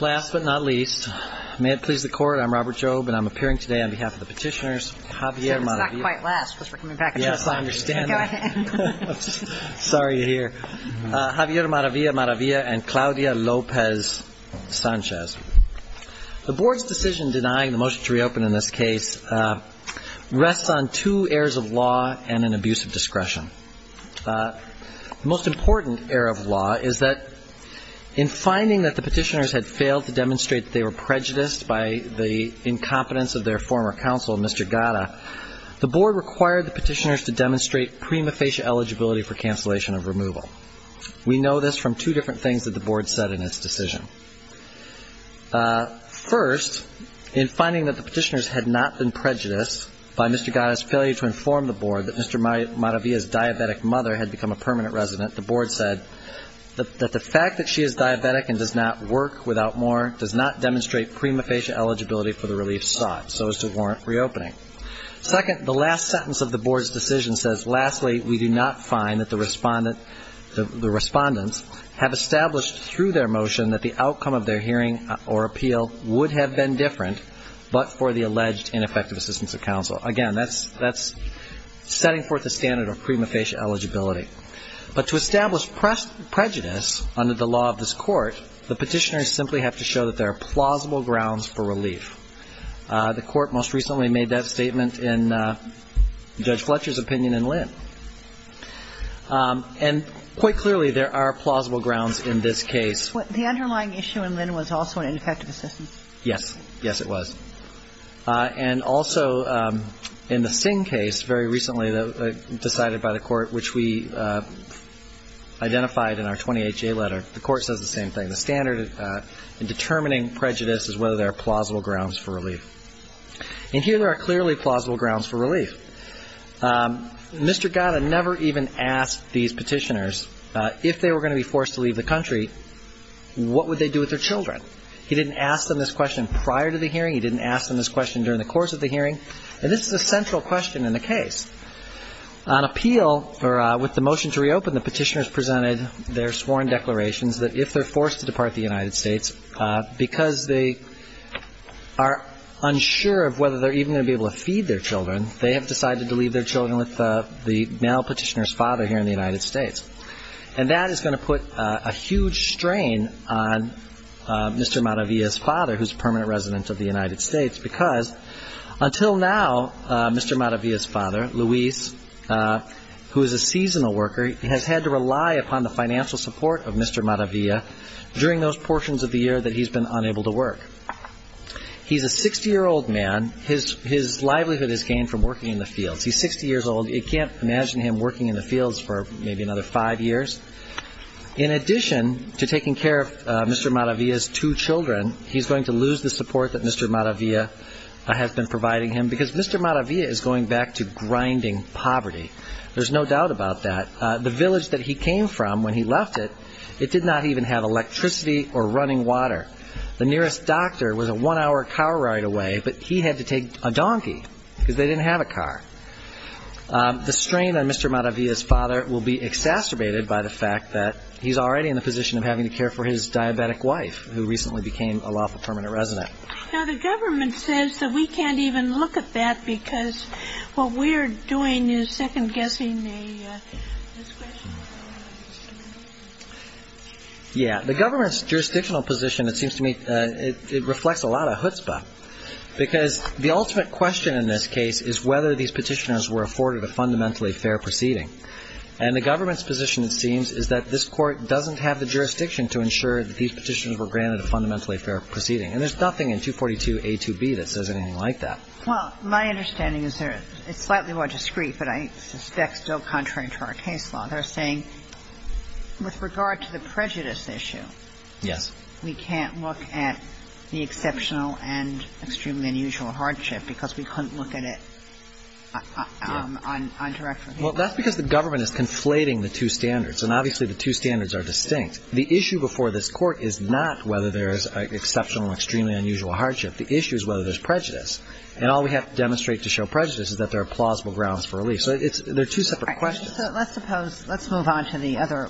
Last but not least, may it please the Court, I'm Robert Jobe and I'm appearing today on behalf of the petitioners, Javier Maravilla-Maravilla and Claudia Lopez-Sanchez. The Board's decision denying the motion to reopen in this case rests on two airs of law and an abuse of discretion. The most important air of law is that in finding that the petitioners had failed to demonstrate that they were prejudiced by the incompetence of their former counsel, Mr. Gatta, the Board required the petitioners to demonstrate prima facie eligibility for cancellation of removal. We know this from two different things that the Board said in its decision. First, in finding that the petitioners had not been prejudiced by Mr. Gatta's failure to inform the Board that Mr. Maravilla's diabetic mother had become a permanent resident, the Board said that the fact that she is diabetic and does not work without more does not demonstrate prima facie eligibility for the relief sought, so as to warrant reopening. Second, the last sentence of the Board's decision says, lastly, we do not find that the respondents have established through their motion that the outcome of their hearing or appeal would have been different but for the alleged ineffective assistance of counsel. Again, that's setting forth the standard of prima facie eligibility. But to establish prejudice under the law of this Court, the petitioners simply have to show that there are plausible grounds for relief. The Court most recently made that statement in Judge Fletcher's opinion in Lynn. And quite clearly, there are plausible grounds in this case. The underlying issue in Lynn was also an ineffective assistance. Yes. Yes, it was. And also, in the Singh case, very recently decided by the Court, which we identified in our 20HA letter, the Court says the same thing. The standard in determining prejudice is whether there are plausible grounds for relief. And here there are clearly plausible grounds for relief. Mr. Gatta never even asked these petitioners if they were going to be forced to leave the country, what would they do with their children. He didn't ask them this question prior to the hearing. He didn't ask them this question during the course of the hearing. And this is a central question in the case. On appeal, or with the motion to reopen, the petitioners presented their sworn declarations that if they're forced to depart the United States, because they are unsure of whether they're even going to be able to feed their children, they have decided to leave their children with the male petitioner's father here in the United States. And that is going to put a huge strain on Mr. Madavia's father, who's a permanent resident of the United States, because until now, Mr. Madavia's father, Luis, who is a seasonal worker, has had to rely upon the financial support of Mr. Madavia during those portions of the year that he's been unable to work. He's a 60-year-old man. His livelihood is gained from working in the fields. He's 60 years old. You can't imagine him working in the fields for maybe another five years. In addition to taking care of Mr. Madavia's two children, he's going to lose the support that Mr. Madavia has been providing him, because Mr. Madavia is going back to grinding poverty. There's no doubt about that. The village that he came from, when he left it, it did not even have electricity or running water. The nearest doctor was a one-hour car ride away, but he had to take a donkey, because they didn't have a car. The strain on Mr. Madavia's father will be exacerbated by the fact that he's already in the position of having to care for his diabetic wife, who recently became a lawful permanent resident. Now, the government says that we can't even look at that, because what we're doing is second-guessing the question. Yeah. The government's jurisdictional position, it seems to me, it reflects a lot of chutzpah, because the ultimate question in this case is whether these petitioners were afforded a fundamentally fair proceeding. And the government's position, it seems, is that this Court doesn't have the jurisdiction to ensure that these petitions were granted a fundamentally fair proceeding. And there's nothing in 242A2B that says anything like that. Well, my understanding is that it's slightly more discreet, but I suspect, still contrary to our case law, they're saying with regard to the prejudice issue, we can't look at the exceptional and extremely unusual hardship, because we couldn't look at it on direct review. Well, that's because the government is conflating the two standards. And obviously, the two standards are distinct. The issue before this Court is not whether there's exceptional, extremely unusual hardship. The issue is whether there's prejudice. And all we have to demonstrate to show prejudice is that there are plausible grounds for relief. So they're two separate questions. So let's suppose – let's move on to the other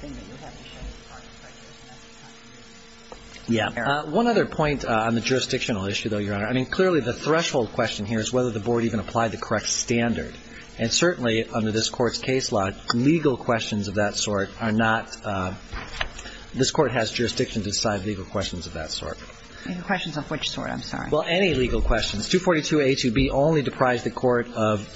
thing that you have to show that's part of the prejudice. Yeah. One other point on the jurisdictional issue, though, Your Honor. I mean, clearly, the threshold question here is whether the Board even applied the correct standard. And certainly, under this Court's case law, legal questions of that sort are not – this Court has jurisdiction to decide legal questions of that sort. Legal questions of which sort? I'm sorry. Well, any legal questions. This 242A2B only deprived the Court of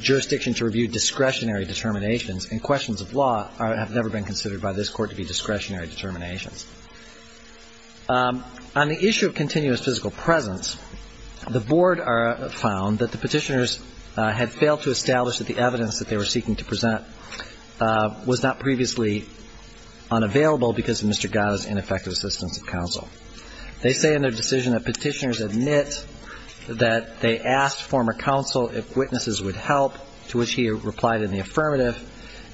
jurisdiction to review discretionary determinations, and questions of law have never been considered by this Court to be discretionary determinations. On the issue of continuous physical presence, the Board found that the Petitioners had failed to establish that the evidence that they were seeking to present was not previously unavailable because of Mr. Gadda's ineffective assistance of counsel. They say in their decision that Petitioners admit that they asked former counsel if witnesses would help, to which he replied in the affirmative,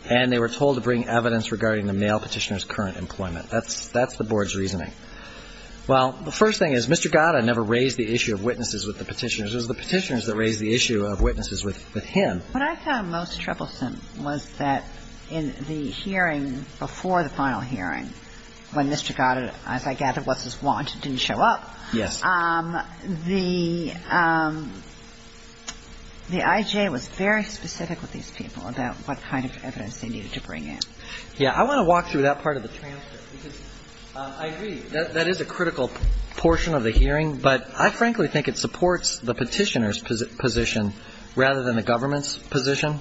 and they were told to bring evidence regarding the male Petitioner's current employment. That's the Board's reasoning. Well, the first thing is Mr. Gadda never raised the issue of witnesses with the Petitioners. It was the Petitioners that raised the issue of witnesses with him. What I found most troublesome was that in the hearing before the final hearing, when Mr. Gadda, as I gather was his warrant, didn't show up. Yes. The IJ was very specific with these people about what kind of evidence they needed to bring in. Yeah. I want to walk through that part of the transfer, because I agree that that is a critical portion of the hearing, but I frankly think it supports the Petitioners' position rather than the government's position.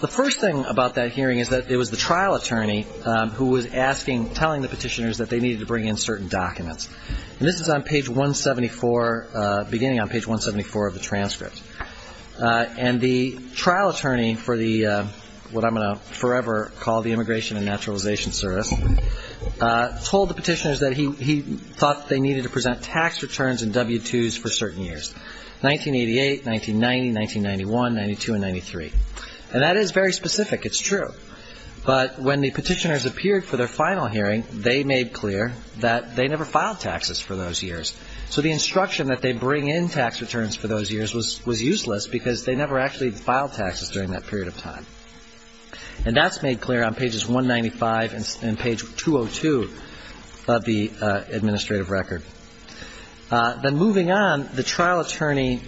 The first thing about that hearing is that it was the trial attorney who was asking, telling the Petitioners that they needed to bring in certain documents. And this is on page 174, beginning on page 174 of the transcript. And the trial attorney for the, what I'm going to forever call the Immigration and Naturalization Service, told the Petitioners that he thought they needed to present tax returns and W-2s for certain years, 1988, 1990, 1991, 92, and 93. And that is very specific. It's true. But when the Petitioners appeared for their final hearing, they made clear that they never filed taxes for those years. So the instruction that they bring in tax returns for those years was useless, because they never actually filed taxes during that period of time. And that's made clear on pages 195 and page 202 of the administrative record. Then moving on, the trial attorney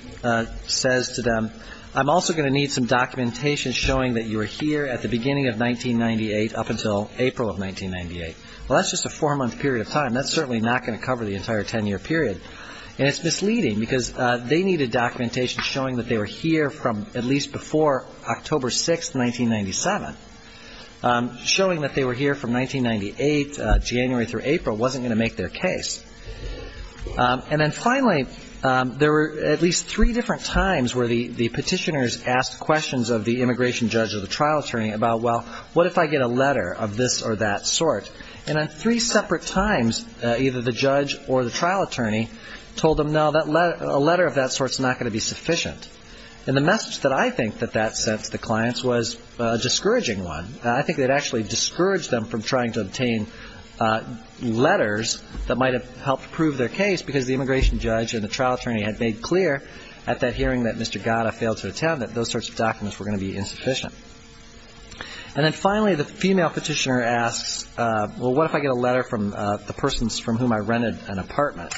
says to them, I'm also going to need some documentation showing that you were here at the beginning of 1998 up until April of 1998. Well, that's just a four-month period of time. That's certainly not going to cover the entire 10-year period. And it's misleading, because they needed documentation showing that they were here from at least before October 6, 1997, showing that they were here from 1998, January through April, wasn't going to make their case. And then finally, there were at least three different times where the Petitioners asked questions of the immigration judge or the trial attorney about, well, what if I get a letter of this or that sort? And on three separate times, either the judge or the trial attorney told them, no, a letter of that sort is not going to be sufficient. And the message that I think that that sent to the clients was a discouraging one. I think it actually discouraged them from trying to obtain letters that might have helped prove their case, because the immigration judge and the trial attorney had made clear at that hearing that Mr. Gatta failed to attend that those sorts of documents were going to be insufficient. And then finally, the female Petitioner asks, well, what if I get a letter from the persons from whom I rented an apartment?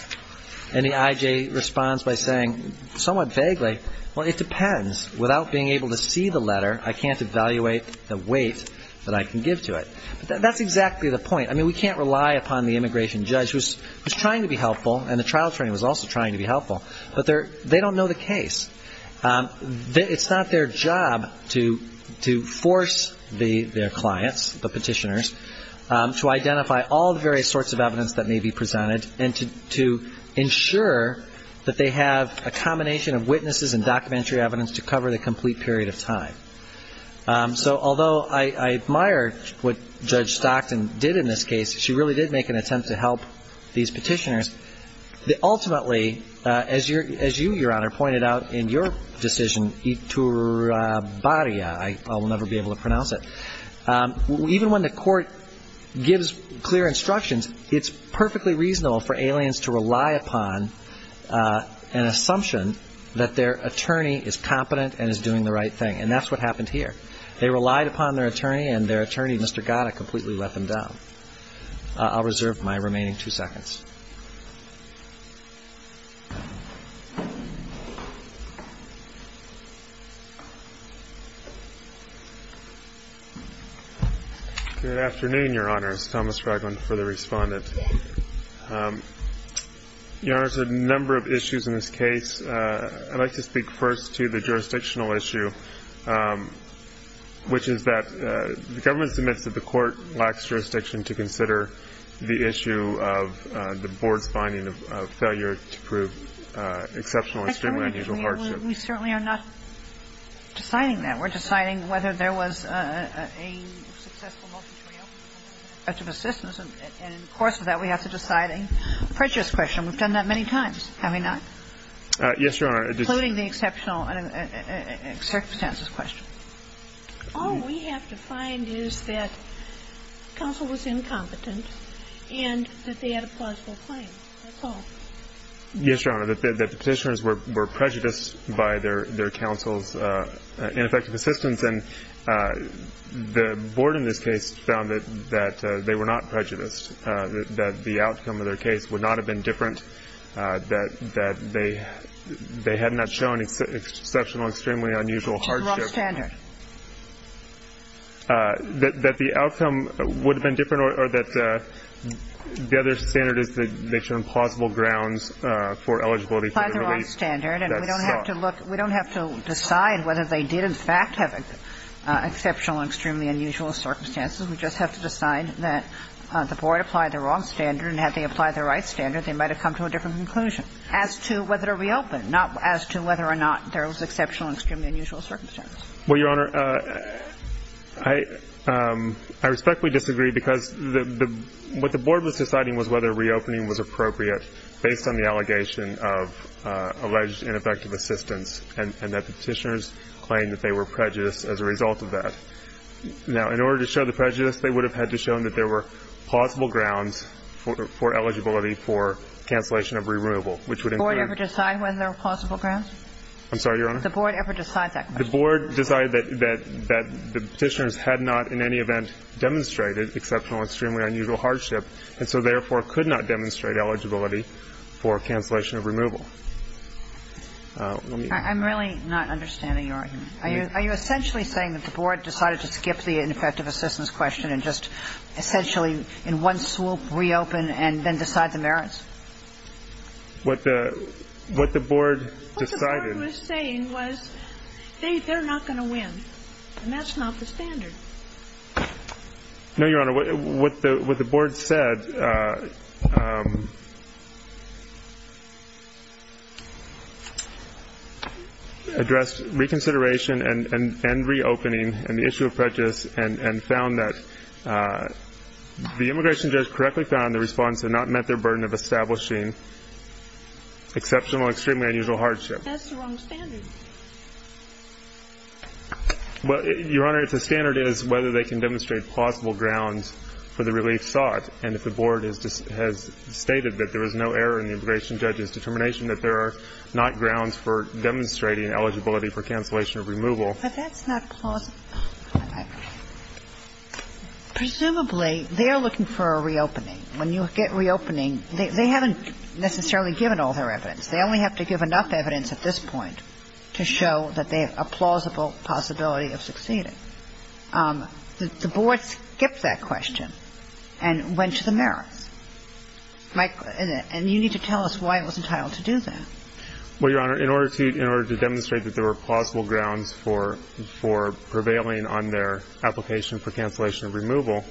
And the I.J. responds by saying, somewhat vaguely, well, it depends. Without being able to see the letter, I can't evaluate the weight that I can give to it. But that's exactly the point. I mean, we can't rely upon the immigration judge, who's trying to be helpful, and the trial attorney was also trying to be helpful, but they don't know the case. It's not their job to force their clients, the Petitioners, to identify all the various sorts of evidence that may be presented and to ensure that they have a combination of witnesses and documentary evidence to cover the complete period of time. So although I admire what Judge Stockton did in this case, she really did make an attempt to help these Petitioners. Ultimately, as you, Your Honor, pointed out in your decision, itura baria, I'll never be able to pronounce it, even when the court gives clear instructions, it's perfectly reasonable for aliens to rely upon an assumption that their attorney is competent and is doing the right thing, and that's what happened here. They relied upon their attorney, and their attorney, Mr. Gatta, completely let them down. I'll reserve my remaining two seconds. Good afternoon, Your Honors. Thomas Ragland for the Respondent. Your Honors, there are a number of issues in this case. I'd like to speak first to the jurisdictional issue, which is that the government submits that the court lacks jurisdiction to consider the issue of the Board's finding of failure to prove exceptional and stigmatized hardship. We certainly are not deciding that. We're deciding whether there was a successful multitorial of assistance, and in the course of that, we have to decide a prejudice question. We've done that many times, have we not? Yes, Your Honor. Including the exceptional circumstances question. All we have to find is that counsel was incompetent and that they had a plausible claim. That's all. Yes, Your Honor. The Petitioners were prejudiced by their counsel's ineffective assistance, and the Board in this case found that they were not prejudiced, that the outcome of their case would not have been different, that they had not shown exceptional, extremely unusual hardship. Which is the wrong standard. That the outcome would have been different, or that the other standard is that they show implausible grounds for eligibility for the relief. That's the wrong standard, and we don't have to look. We don't have to decide whether they did, in fact, have exceptional, extremely unusual circumstances. We just have to decide that the Board applied the wrong standard, and had they applied the right standard, they might have come to a different conclusion as to whether to reopen, not as to whether or not there was exceptional, extremely unusual circumstances. Well, Your Honor, I respectfully disagree because what the Board was deciding was whether reopening was appropriate based on the allegation of alleged ineffective assistance, and that the Petitioners claimed that they were prejudiced as a result of that. Now, in order to show the prejudice, they would have had to show that there were plausible grounds for eligibility for cancellation of removal, which would include. Did the Board ever decide whether there were plausible grounds? I'm sorry, Your Honor? Did the Board ever decide that question? The Board decided that the Petitioners had not in any event demonstrated exceptional, extremely unusual hardship, and so therefore could not demonstrate eligibility for cancellation of removal. I'm really not understanding your argument. Are you essentially saying that the Board decided to skip the ineffective assistance question and just essentially in one swoop reopen and then decide the merits? What the Board decided. What the Board was saying was they're not going to win, and that's not the standard. No, Your Honor. What the Board said addressed reconsideration and reopening and the issue of prejudice and found that the immigration judge correctly found the respondents had not met their burden of establishing exceptional, extremely unusual hardship. That's the wrong standard. Well, Your Honor, the standard is whether they can demonstrate plausible grounds for the relief sought, and if the Board has stated that there was no error in the immigration judge's determination that there are not grounds for demonstrating eligibility for cancellation of removal. But that's not plausible. Presumably they're looking for a reopening. When you get reopening, they haven't necessarily given all their evidence. They only have to give enough evidence at this point. To show that they have a plausible possibility of succeeding. The Board skipped that question and went to the merits. And you need to tell us why it was entitled to do that. Well, Your Honor, in order to demonstrate that there were plausible grounds for prevailing on their application for cancellation of removal,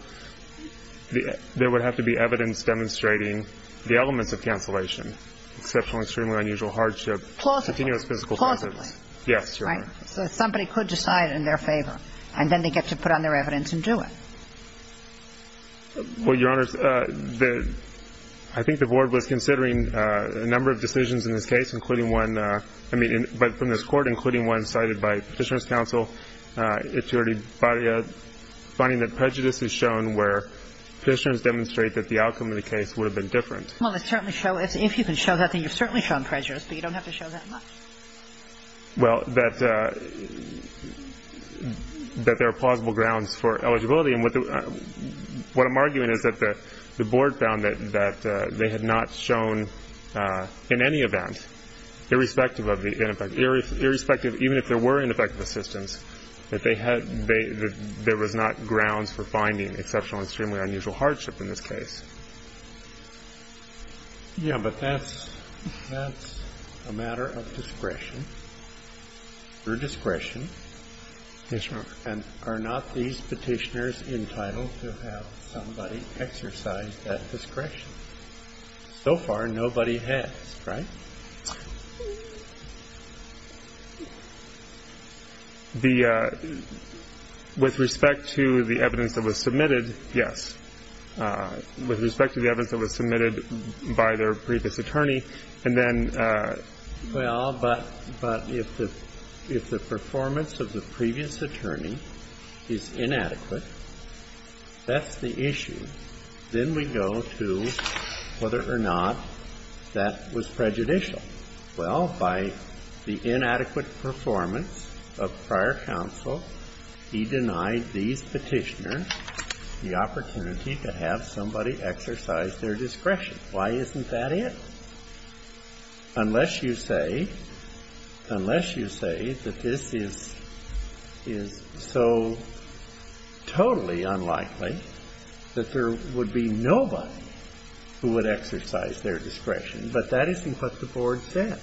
there would have to be evidence demonstrating the elements of cancellation, exceptional, extremely unusual hardship, continuous physical presence. Plausibly. Yes, Your Honor. Right. So somebody could decide in their favor, and then they get to put on their evidence and do it. Well, Your Honor, I think the Board was considering a number of decisions in this case, including one, I mean, from this Court, including one cited by Petitioner's counsel. It's already finding that prejudice is shown where Petitioner's demonstrate that the outcome of the case would have been different. Well, if you can show that, then you've certainly shown prejudice, but you don't have to show that much. Well, that there are plausible grounds for eligibility. And what I'm arguing is that the Board found that they had not shown in any event, irrespective of the ineffective assistance, that there was not grounds for finding exceptional and extremely unusual hardship in this case. Yeah, but that's a matter of discretion, your discretion. Yes, Your Honor. And are not these Petitioners entitled to have somebody exercise that discretion? So far, nobody has, right? The – with respect to the evidence that was submitted, yes. With respect to the evidence that was submitted by their previous attorney, and then – Well, but if the performance of the previous attorney is inadequate, that's the issue. Then we go to whether or not that was prejudicial. Well, by the inadequate performance of prior counsel, he denied these Petitioners the opportunity to have somebody exercise their discretion. Why isn't that it? Unless you say that this is so totally unlikely that there would be nobody who would exercise their discretion. But that isn't what the Board said.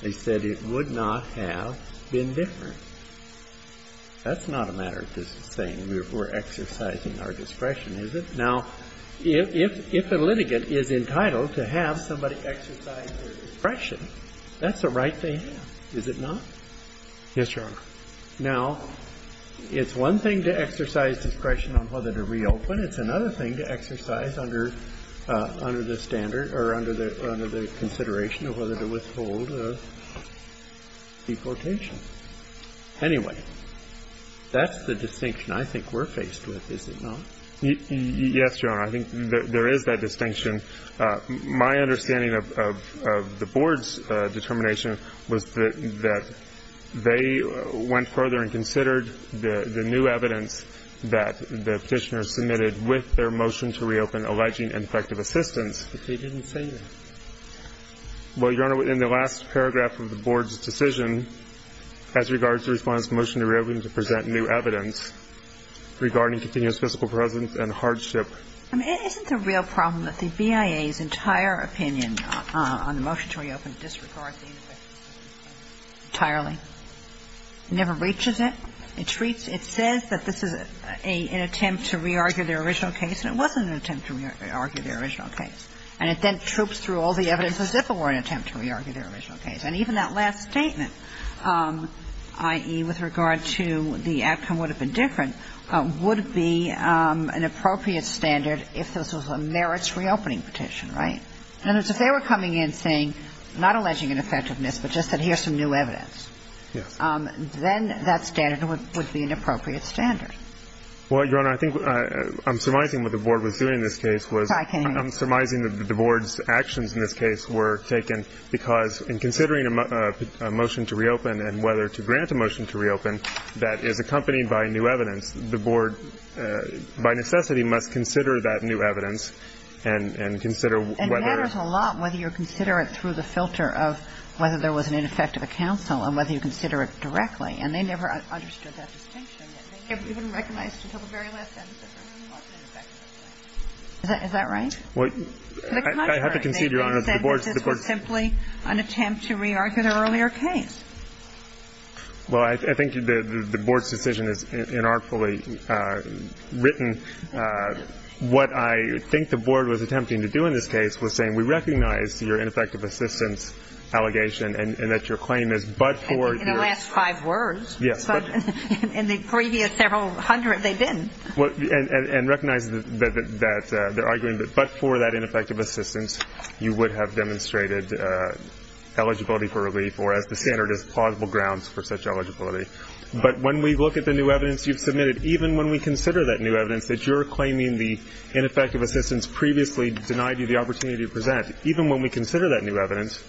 They said it would not have been different. That's not a matter of just saying we're exercising our discretion, is it? Now, if a litigant is entitled to have somebody exercise their discretion, that's the right thing to do, is it not? Yes, Your Honor. Now, it's one thing to exercise discretion on whether to reopen. It's another thing to exercise under the standard or under the consideration of whether to withhold a deportation. Anyway, that's the distinction I think we're faced with, is it not? Yes, Your Honor. I think there is that distinction. My understanding of the Board's determination was that they went further and considered the new evidence that the Petitioners submitted with their motion to reopen alleging ineffective assistance. But they didn't say that. Well, Your Honor, in the last paragraph of the Board's decision, as regards to the Respondent's motion to reopen to present new evidence regarding continuous fiscal presence and hardship. I mean, isn't the real problem that the BIA's entire opinion on the motion to reopen disregards the ineffective assistance? Entirely. It never reaches it. It says that this is an attempt to re-argue their original case, and it wasn't an attempt to re-argue their original case. And it then troops through all the evidence as if it were an attempt to re-argue their original case. And even that last statement, i.e., with regard to the outcome would have been different, would be an appropriate standard if this was a merits reopening petition, right? In other words, if they were coming in saying, not alleging ineffectiveness, but just that here's some new evidence. Yes. Then that standard would be an appropriate standard. Well, Your Honor, I think I'm surmising what the Board was doing in this case was I'm surmising that the Board's actions in this case were taken because in considering a motion to reopen and whether to grant a motion to reopen that is accompanied by new evidence, the Board, by necessity, must consider that new evidence and consider whether And it matters a lot whether you consider it through the filter of whether there was an ineffective counsel and whether you consider it directly. And they never understood that distinction. Is that right? Well, I have to concede, Your Honor, the Board's It was simply an attempt to re-argue their earlier case. Well, I think the Board's decision is inartfully written. What I think the Board was attempting to do in this case was saying we recognize your ineffective assistance allegation and that your claim is but for In the last five words. Yes. In the previous several hundred, they've been. And recognize that they're arguing that but for that ineffective assistance, you would have demonstrated eligibility for relief or as the standard is, plausible grounds for such eligibility. But when we look at the new evidence you've submitted, even when we consider that new evidence that you're claiming the ineffective assistance previously denied you the opportunity to present, even when we consider that new evidence,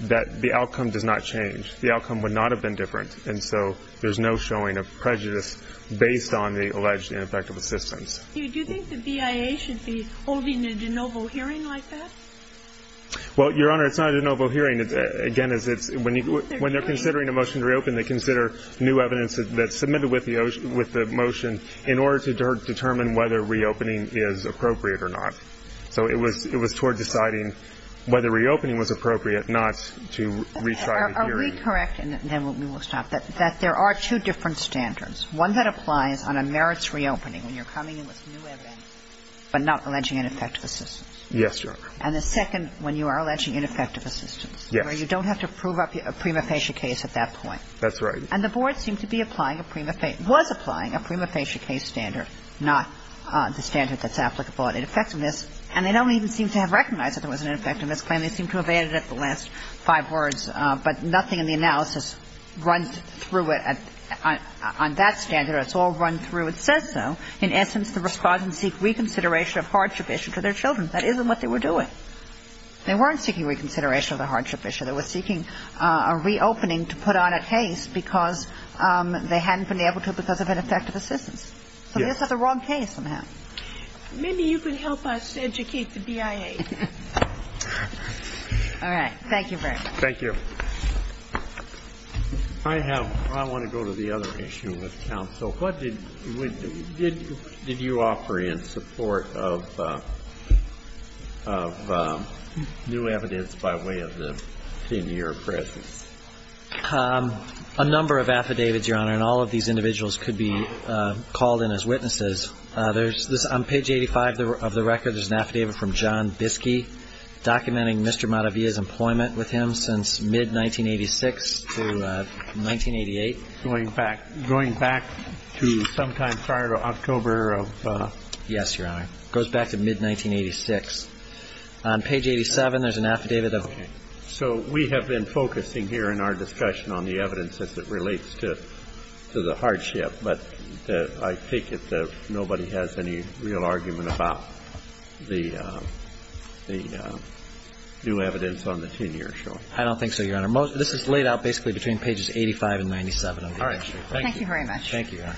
that the outcome does not change. The outcome would not have been different. And so there's no showing of prejudice based on the alleged ineffective assistance. Do you think the BIA should be holding a de novo hearing like that? Well, Your Honor, it's not a de novo hearing. Again, when they're considering a motion to reopen, they consider new evidence that's submitted with the motion in order to determine whether reopening is appropriate or not. So it was toward deciding whether reopening was appropriate, not to retry the hearing. Let me correct, and then we will stop, that there are two different standards. One that applies on a merits reopening when you're coming in with new evidence but not alleging ineffective assistance. Yes, Your Honor. And the second when you are alleging ineffective assistance. Yes. Where you don't have to prove up a prima facie case at that point. That's right. And the Board seemed to be applying a prima facie – was applying a prima facie case standard, not the standard that's applicable at ineffectiveness. And they don't even seem to have recognized that there was an ineffectiveness And they seem to have added up the last five words. But nothing in the analysis runs through it on that standard. It's all run through. It says so. In essence, the Respondents seek reconsideration of hardship issue to their children. That isn't what they were doing. They weren't seeking reconsideration of the hardship issue. They were seeking a reopening to put on a case because they hadn't been able to because of ineffective assistance. So they just have the wrong case somehow. Maybe you can help us educate the BIA. All right. Thank you, Brent. Thank you. I have – I want to go to the other issue with counsel. What did – did you offer in support of new evidence by way of the 10-year presence? A number of affidavits, Your Honor, and all of these individuals could be called in as witnesses. There's – on page 85 of the record, there's an affidavit from John Biskey documenting Mr. Madavia's employment with him since mid-1986 to 1988. Going back to sometime prior to October of – Yes, Your Honor. It goes back to mid-1986. On page 87, there's an affidavit of – Okay. So we have been focusing here in our discussion on the evidence as it relates to the hardship. But I take it that nobody has any real argument about the new evidence on the 10-year short. I don't think so, Your Honor. Most – this is laid out basically between pages 85 and 97 of the history. All right. Thank you. Thank you very much. Thank you, Your Honor.